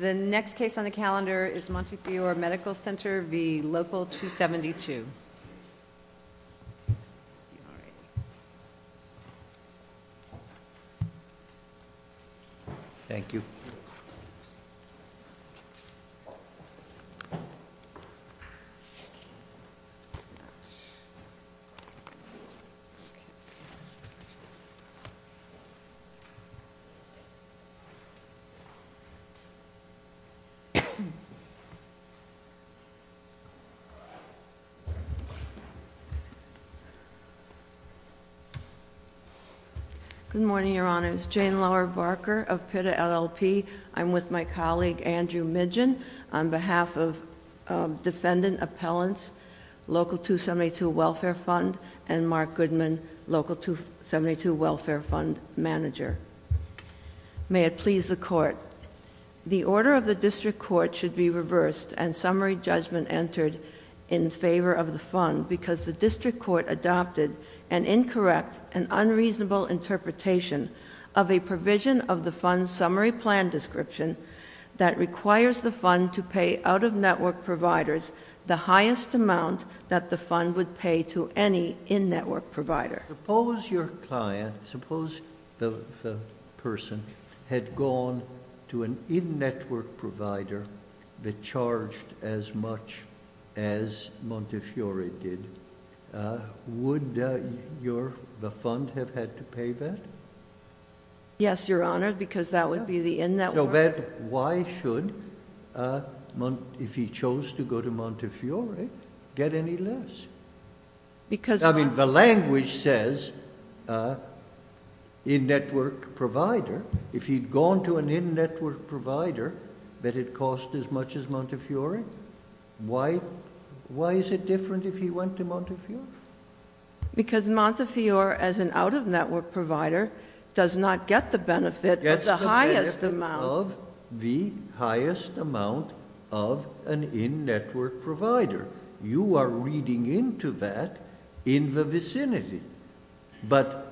The next case on the calendar is Montefiore Medical Center v. Local 272. Thank you. Good morning, Your Honors. Jane Lauer Barker of Pitta LLP. I'm with my colleague Andrew Midgen on behalf of Defendant Appellants, Local 272 Welfare Fund, and Mark Goodman, Local 272 Welfare Fund Manager. May it please the Court. The order of the district court should be reversed and summary judgment entered in favor of the fund because the district court adopted an incorrect and unreasonable interpretation of a provision of the fund's summary plan description that requires the fund to pay out-of-network providers the highest amount that the fund would pay to any in-network provider. Suppose your client, suppose the person had gone to an in-network provider that charged as much as Montefiore did, would the fund have had to pay that? Yes, Your Honor, because that would be the in-network. So then why should, if he chose to go to Montefiore, get any less? I mean, the language says in-network provider. If he'd gone to an in-network provider that had cost as much as Montefiore, why is it different if he went to Montefiore? Because Montefiore, as an out-of-network provider, does not get the benefit of the highest amount. Of the highest amount of an in-network provider. You are reading into that in the vicinity, but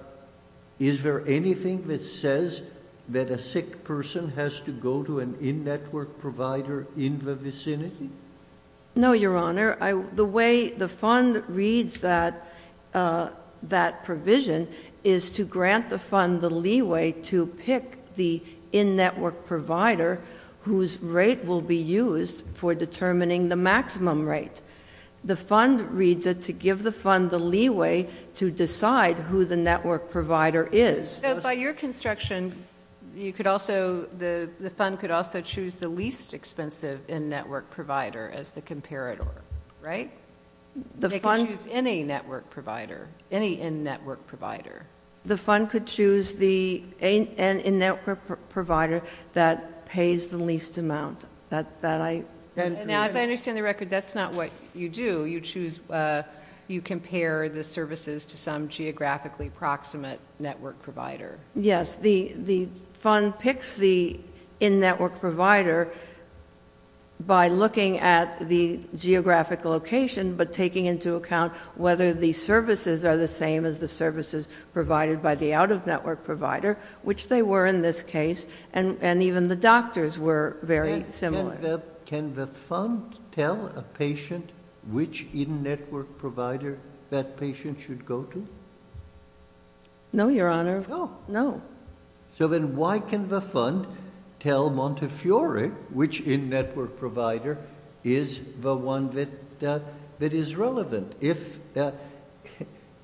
is there anything that says that a sick person has to go to an in-network provider in the vicinity? No, Your Honor. The way the fund reads that provision is to grant the fund the leeway to pick the in-network provider whose rate will be used for determining the maximum rate. The fund reads it to give the fund the leeway to decide who the network provider is. So by your construction, the fund could also choose the least expensive in-network provider as the comparator, right? They could choose any network provider, any in-network provider. The fund could choose the in-network provider that pays the least amount. As I understand the record, that's not what you do. You compare the services to some geographically proximate network provider. Yes. The fund picks the in-network provider by looking at the geographic location, but taking into account whether the services are the same as the services provided by the out-of-network provider, which they were in this case. And even the doctors were very similar. Can the fund tell a patient which in-network provider that patient should go to? No, Your Honor. No. So then why can the fund tell Montefiore which in-network provider is the one that is relevant?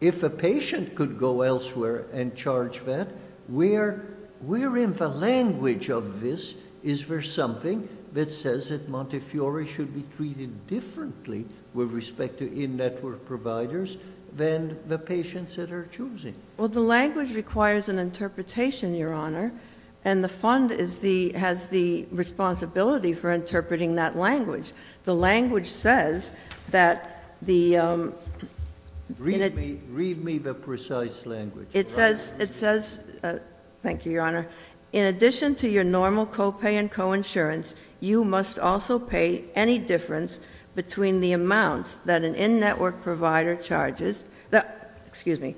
If a patient could go elsewhere and charge that, where in the language of this is there something that says that Montefiore should be treated differently with respect to in-network providers than the patients that are choosing? Well, the language requires an interpretation, Your Honor, and the fund has the responsibility for interpreting that language. The language says that the— Read me the precise language. Thank you, Your Honor. In addition to your normal copay and coinsurance, you must also pay any difference between the amount that an in-network provider charges—excuse me,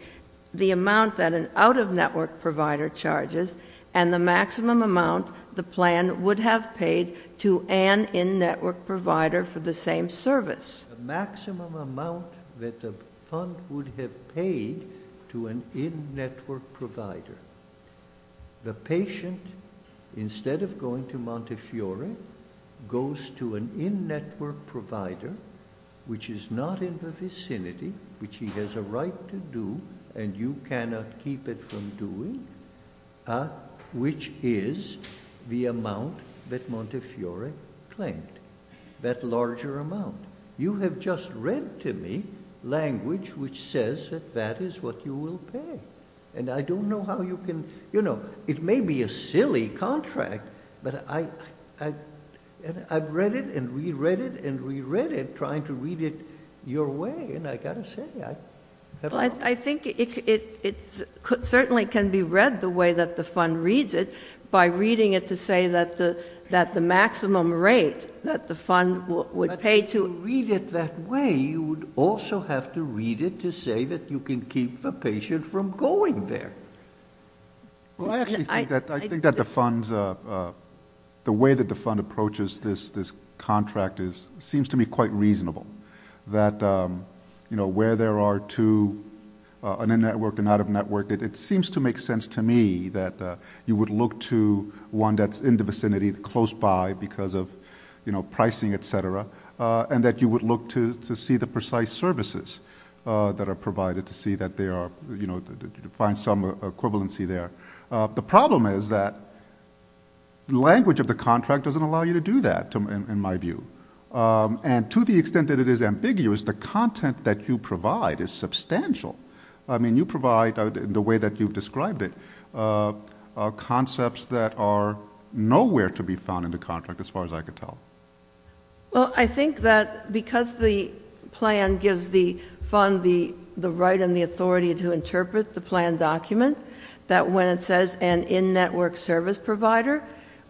the amount that an out-of-network provider charges and the maximum amount the plan would have paid to an in-network provider for the same service. The maximum amount that the fund would have paid to an in-network provider. The patient, instead of going to Montefiore, goes to an in-network provider which is not in the vicinity, which he has a right to do and you cannot keep it from doing, which is the amount that Montefiore claimed, that larger amount. You have just read to me language which says that that is what you will pay. And I don't know how you can—you know, it may be a silly contract, but I've read it and re-read it and re-read it trying to read it your way, and I've got to say, I have— If you read it that way, you would also have to read it to say that you can keep the patient from going there. Well, I actually think that the funds—the way that the fund approaches this contract seems to me quite reasonable. That, you know, where there are two, an in-network and an out-of-network, it seems to make sense to me that you would look to one that's in the vicinity, close by because of, you know, pricing, et cetera, and that you would look to see the precise services that are provided to see that there are, you know, to find some equivalency there. The problem is that language of the contract doesn't allow you to do that, in my view. And to the extent that it is ambiguous, the content that you provide is substantial. I mean, you provide, in the way that you've described it, concepts that are nowhere to be found in the contract, as far as I can tell. Well, I think that because the plan gives the fund the right and the authority to interpret the plan document, that when it says an in-network service provider,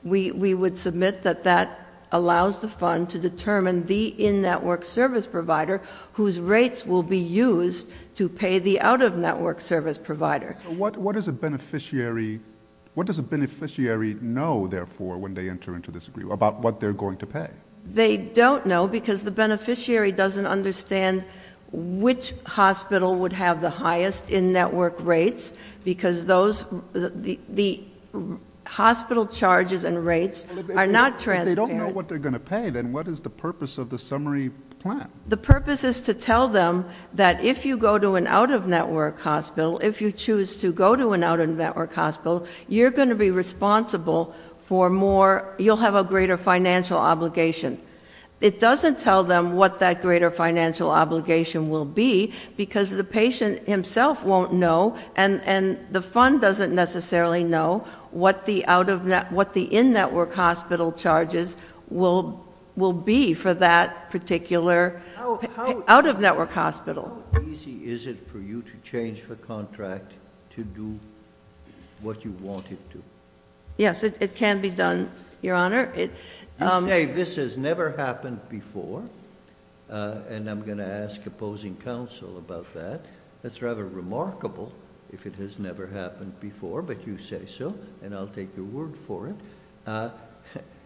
we would submit that that allows the fund to determine the in-network service provider whose rates will be used to pay the out-of-network service provider. What does a beneficiary know, therefore, when they enter into this agreement, about what they're going to pay? They don't know because the beneficiary doesn't understand which hospital would have the highest in-network rates because the hospital charges and rates are not transparent. If they don't know what they're going to pay, then what is the purpose of the summary plan? The purpose is to tell them that if you go to an out-of-network hospital, if you choose to go to an out-of-network hospital, you're going to be responsible for more, you'll have a greater financial obligation. It doesn't tell them what that greater financial obligation will be because the patient himself won't know, and the fund doesn't necessarily know what the in-network hospital charges will be for that particular out-of-network hospital. How easy is it for you to change the contract to do what you want it to? Yes, it can be done, Your Honor. This has never happened before, and I'm going to ask opposing counsel about that. It's rather remarkable if it has never happened before, but you say so, and I'll take your word for it.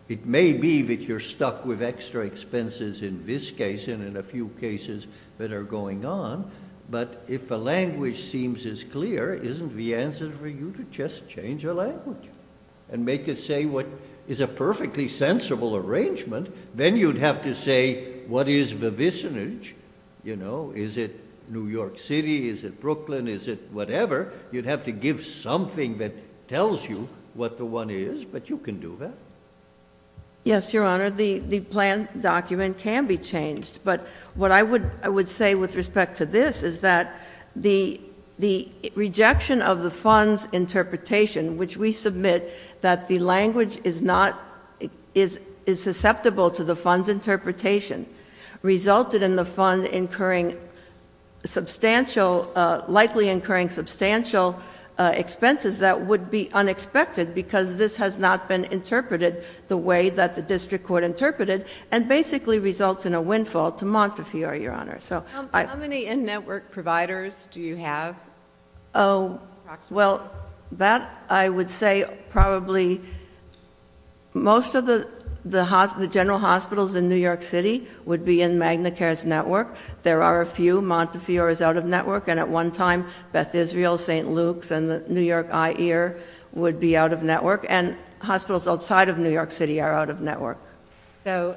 It may be that you're stuck with extra expenses in this case and in a few cases that are going on, but if a language seems as clear, isn't the answer for you to just change the language and make it say what is a perfectly sensible arrangement? Then you'd have to say what is the visinage, you know? Is it New York City? Is it Brooklyn? Is it whatever? You'd have to give something that tells you what the one is, but you can do that. Yes, Your Honor, the plan document can be changed, but what I would say with respect to this is that the rejection of the fund's interpretation, which we submit that the language is susceptible to the fund's interpretation, resulted in the fund likely incurring substantial expenses that would be unexpected because this has not been interpreted the way that the district court interpreted, and basically results in a windfall to Montefiore, Your Honor. How many in-network providers do you have? Well, that I would say probably most of the general hospitals in New York City would be in Magna Cares Network. There are a few. Montefiore is out of network, and at one time Beth Israel, St. Luke's, and the New York Eye Ear would be out of network, and hospitals outside of New York City are out of network. So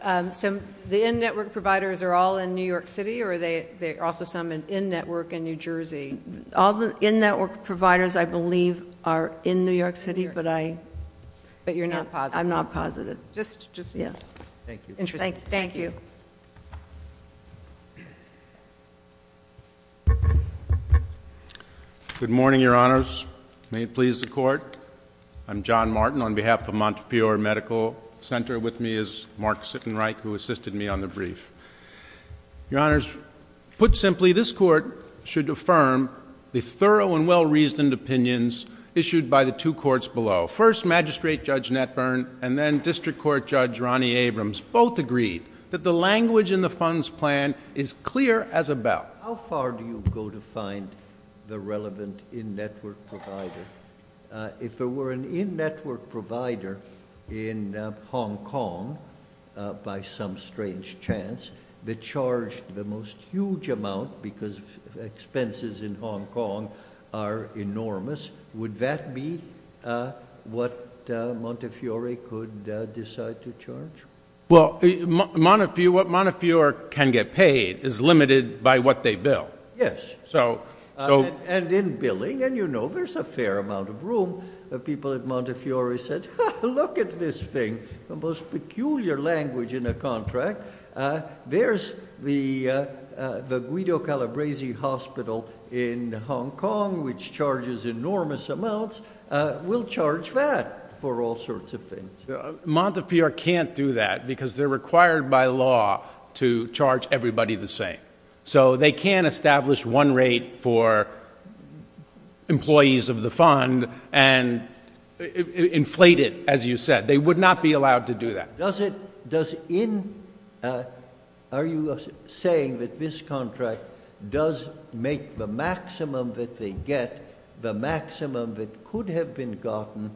the in-network providers are all in New York City, or are there also some in-network in New Jersey? All the in-network providers, I believe, are in New York City, but I- But you're not positive? I'm not positive. Just interesting. Thank you. Thank you. Good morning, Your Honors. May it please the Court. I'm John Martin. On behalf of Montefiore Medical Center with me is Mark Sittenreich, who assisted me on the brief. Your Honors, put simply, this Court should affirm the thorough and well-reasoned opinions issued by the two courts below. First, Magistrate Judge Netburn and then District Court Judge Ronnie Abrams both agreed that the language in the funds plan is clear as a bell. How far do you go to find the relevant in-network provider? If there were an in-network provider in Hong Kong, by some strange chance, that charged the most huge amount because expenses in Hong Kong are enormous, would that be what Montefiore could decide to charge? Well, what Montefiore can get paid is limited by what they bill. Yes. So- And in billing, and you know, there's a fair amount of room that people at Montefiore said, Look at this thing, the most peculiar language in a contract. There's the Guido Calabresi Hospital in Hong Kong, which charges enormous amounts. We'll charge that for all sorts of things. Montefiore can't do that because they're required by law to charge everybody the same. So they can't establish one rate for employees of the fund and inflate it, as you said. They would not be allowed to do that. Are you saying that this contract does make the maximum that they get, the maximum that could have been gotten,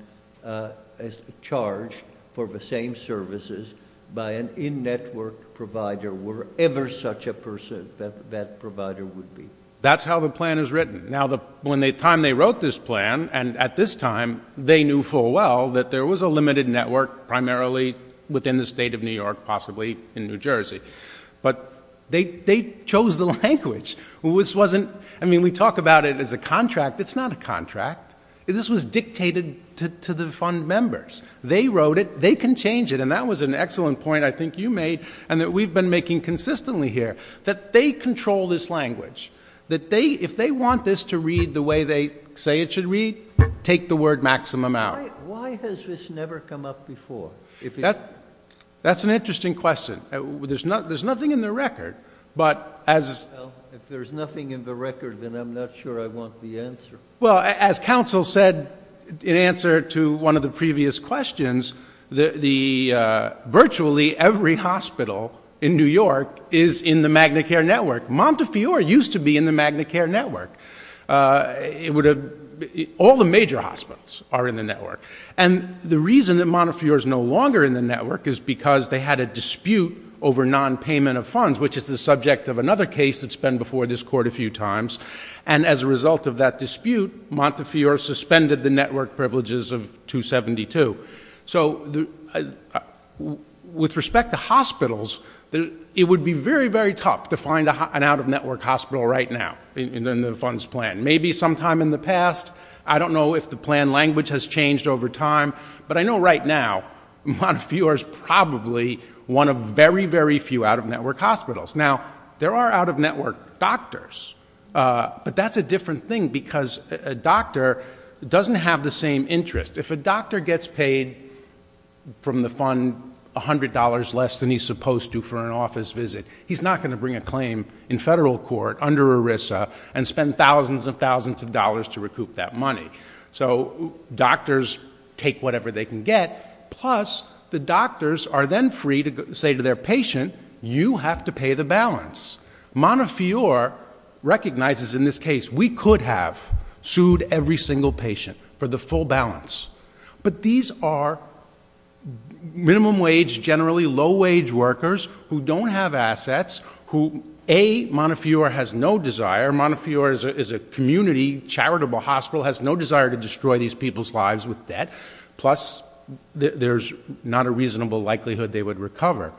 charged for the same services by an in-network provider, wherever such a person, that provider would be? That's how the plan is written. Now, the time they wrote this plan, and at this time, they knew full well that there was a limited network, primarily within the state of New York, possibly in New Jersey. But they chose the language. I mean, we talk about it as a contract. It's not a contract. This was dictated to the fund members. They wrote it. They can change it. And that was an excellent point I think you made and that we've been making consistently here, that they control this language. That if they want this to read the way they say it should read, take the word maximum out. Why has this never come up before? That's an interesting question. There's nothing in the record. If there's nothing in the record, then I'm not sure I want the answer. Well, as counsel said in answer to one of the previous questions, virtually every hospital in New York is in the Magna Care Network. Montefiore used to be in the Magna Care Network. All the major hospitals are in the network. And the reason that Montefiore is no longer in the network is because they had a dispute over nonpayment of funds, which is the subject of another case that's been before this court a few times. And as a result of that dispute, Montefiore suspended the network privileges of 272. So with respect to hospitals, it would be very, very tough to find an out-of-network hospital right now in the funds plan. Maybe sometime in the past. I don't know if the plan language has changed over time. But I know right now Montefiore is probably one of very, very few out-of-network hospitals. Now, there are out-of-network doctors. But that's a different thing because a doctor doesn't have the same interest. If a doctor gets paid from the fund $100 less than he's supposed to for an office visit, he's not going to bring a claim in federal court under ERISA and spend thousands and thousands of dollars to recoup that money. So doctors take whatever they can get. Plus, the doctors are then free to say to their patient, you have to pay the balance. Montefiore recognizes in this case, we could have sued every single patient for the full balance. But these are minimum wage, generally low wage workers who don't have assets. A, Montefiore has no desire. Montefiore is a community charitable hospital, has no desire to destroy these people's lives with debt. Plus, there's not a reasonable likelihood they would recover.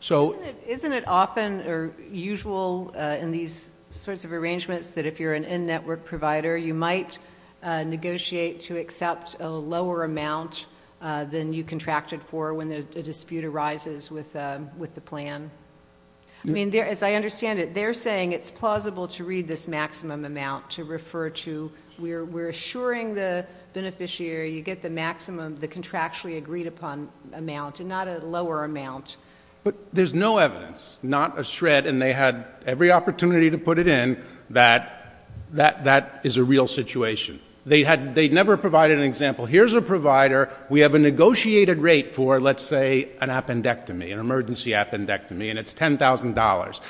So- Isn't it often or usual in these sorts of arrangements that if you're an in-network provider, you might negotiate to accept a lower amount than you contracted for when a dispute arises with the plan? I mean, as I understand it, they're saying it's plausible to read this maximum amount to refer to. We're assuring the beneficiary you get the maximum, the contractually agreed upon amount and not a lower amount. But there's no evidence, not a shred, and they had every opportunity to put it in, that that is a real situation. They never provided an example. Here's a provider. We have a negotiated rate for, let's say, an appendectomy, an emergency appendectomy, and it's $10,000.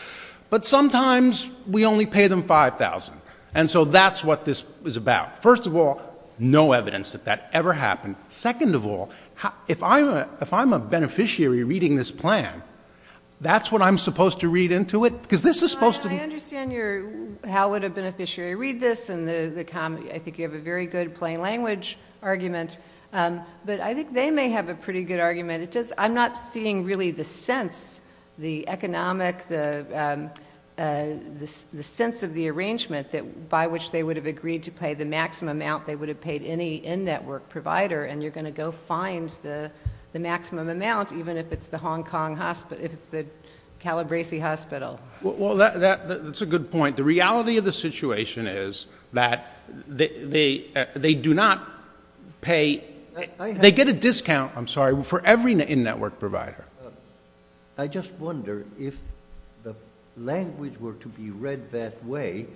But sometimes we only pay them $5,000. And so that's what this is about. First of all, no evidence that that ever happened. Second of all, if I'm a beneficiary reading this plan, that's what I'm supposed to read into it? Because this is supposed to be- I understand how would a beneficiary read this, and I think you have a very good plain language argument. But I think they may have a pretty good argument. I'm not seeing really the sense, the economic, the sense of the arrangement by which they would have agreed to pay the maximum amount they would have paid any in-network provider, and you're going to go find the maximum amount, even if it's the Calabresi Hospital. Well, that's a good point. The reality of the situation is that they do not pay-they get a discount-I'm sorry-for every in-network provider. I just wonder if the language were to be read that way,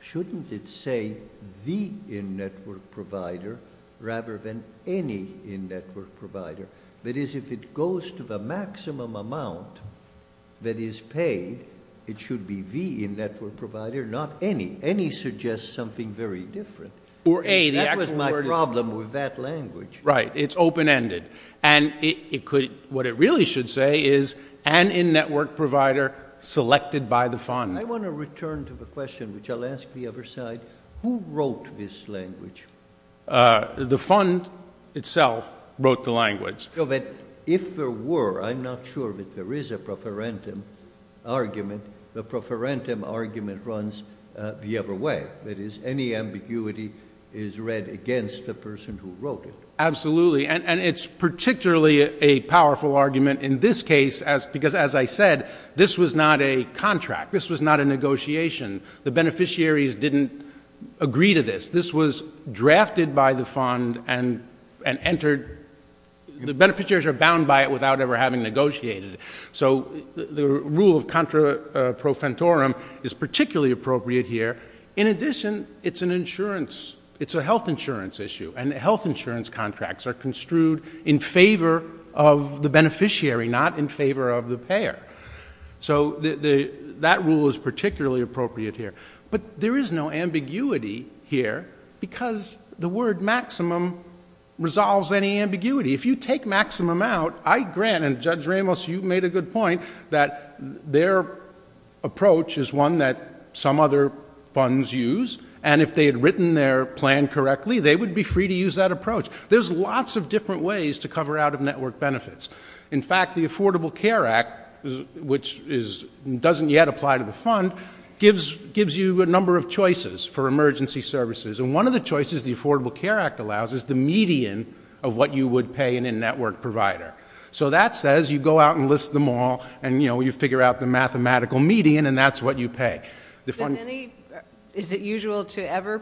shouldn't it say the in-network provider rather than any in-network provider? That is, if it goes to the maximum amount that is paid, it should be the in-network provider, not any. Any suggests something very different. That was my problem with that language. Right. It's open-ended. And what it really should say is an in-network provider selected by the fund. I want to return to the question, which I'll ask the other side. Who wrote this language? The fund itself wrote the language. If there were-I'm not sure that there is a preferentum argument-the preferentum argument runs the other way. That is, any ambiguity is read against the person who wrote it. Absolutely, and it's particularly a powerful argument in this case because, as I said, this was not a contract. This was not a negotiation. The beneficiaries didn't agree to this. This was drafted by the fund and entered-the beneficiaries are bound by it without ever having negotiated it. So the rule of contra profitorum is particularly appropriate here. In addition, it's an insurance-it's a health insurance issue, and health insurance contracts are construed in favor of the beneficiary, not in favor of the payer. So that rule is particularly appropriate here. But there is no ambiguity here because the word maximum resolves any ambiguity. If you take maximum out, I grant, and Judge Ramos, you made a good point, that their approach is one that some other funds use, and if they had written their plan correctly, they would be free to use that approach. There's lots of different ways to cover out-of-network benefits. In fact, the Affordable Care Act, which doesn't yet apply to the fund, gives you a number of choices for emergency services, and one of the choices the Affordable Care Act allows is the median of what you would pay an in-network provider. So that says you go out and list them all, and, you know, you figure out the mathematical median, and that's what you pay. Is it usual to ever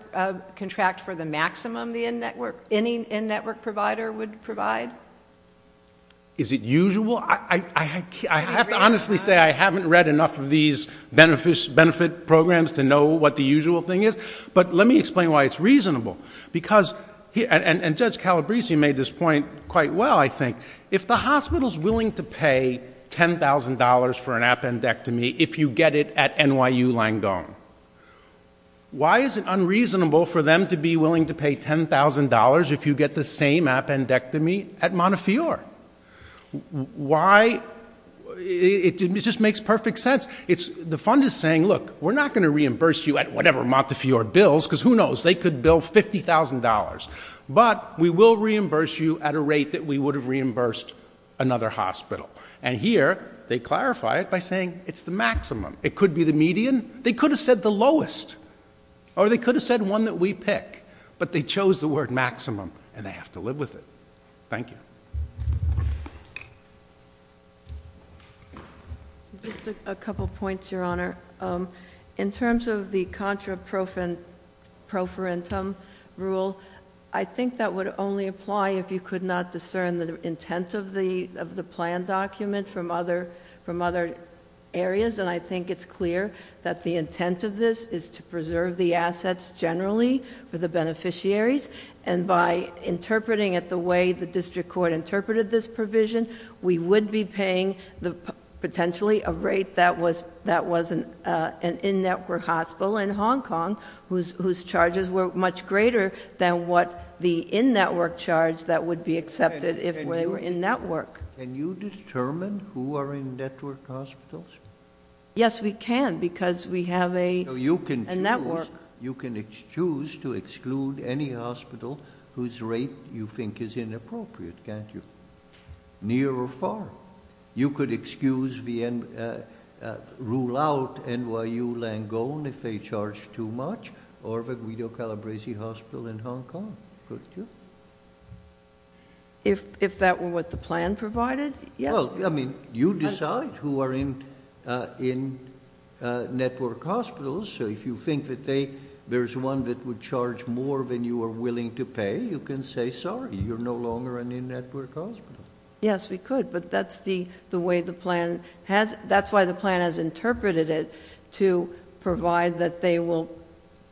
contract for the maximum any in-network provider would provide? Is it usual? I have to honestly say I haven't read enough of these benefit programs to know what the usual thing is, but let me explain why it's reasonable. And Judge Calabresi made this point quite well, I think. If the hospital's willing to pay $10,000 for an appendectomy if you get it at NYU Langone, why is it unreasonable for them to be willing to pay $10,000 if you get the same appendectomy at Montefiore? Why? It just makes perfect sense. The fund is saying, look, we're not going to reimburse you at whatever Montefiore bills, because who knows, they could bill $50,000, but we will reimburse you at a rate that we would have reimbursed another hospital. And here they clarify it by saying it's the maximum. It could be the median. They could have said the lowest, or they could have said one that we pick, but they chose the word maximum, and they have to live with it. Thank you. Just a couple points, Your Honor. In terms of the contra proferentum rule, I think that would only apply if you could not discern the intent of the plan document from other areas, and I think it's clear that the intent of this is to preserve the assets generally for the beneficiaries, and by interpreting it the way the district court interpreted this provision, we would be paying potentially a rate that was an in-network hospital in Hong Kong, whose charges were much greater than what the in-network charge that would be accepted if they were in-network. Can you determine who are in-network hospitals? Yes, we can, because we have a network. So you can choose to exclude any hospital whose rate you think is inappropriate, can't you? Near or far. You could excuse the rule out NYU Langone if they charge too much, or the Guido Calabresi Hospital in Hong Kong, couldn't you? If that were what the plan provided, yes. Well, I mean, you decide who are in-network hospitals, so if you think that there's one that would charge more than you are willing to pay, you can say sorry, you're no longer an in-network hospital. Yes, we could, but that's why the plan has interpreted it, to provide that they will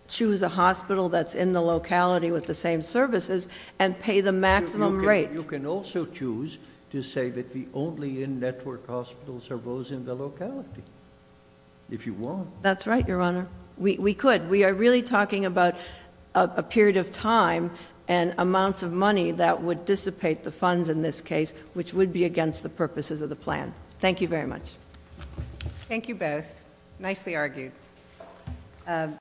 choose a hospital that's in the locality with the same services and pay the maximum rate. But you can also choose to say that the only in-network hospitals are those in the locality, if you want. That's right, Your Honor. We could. We are really talking about a period of time and amounts of money that would dissipate the funds in this case, which would be against the purposes of the plan. Thank you very much. Thank you both. Nicely argued.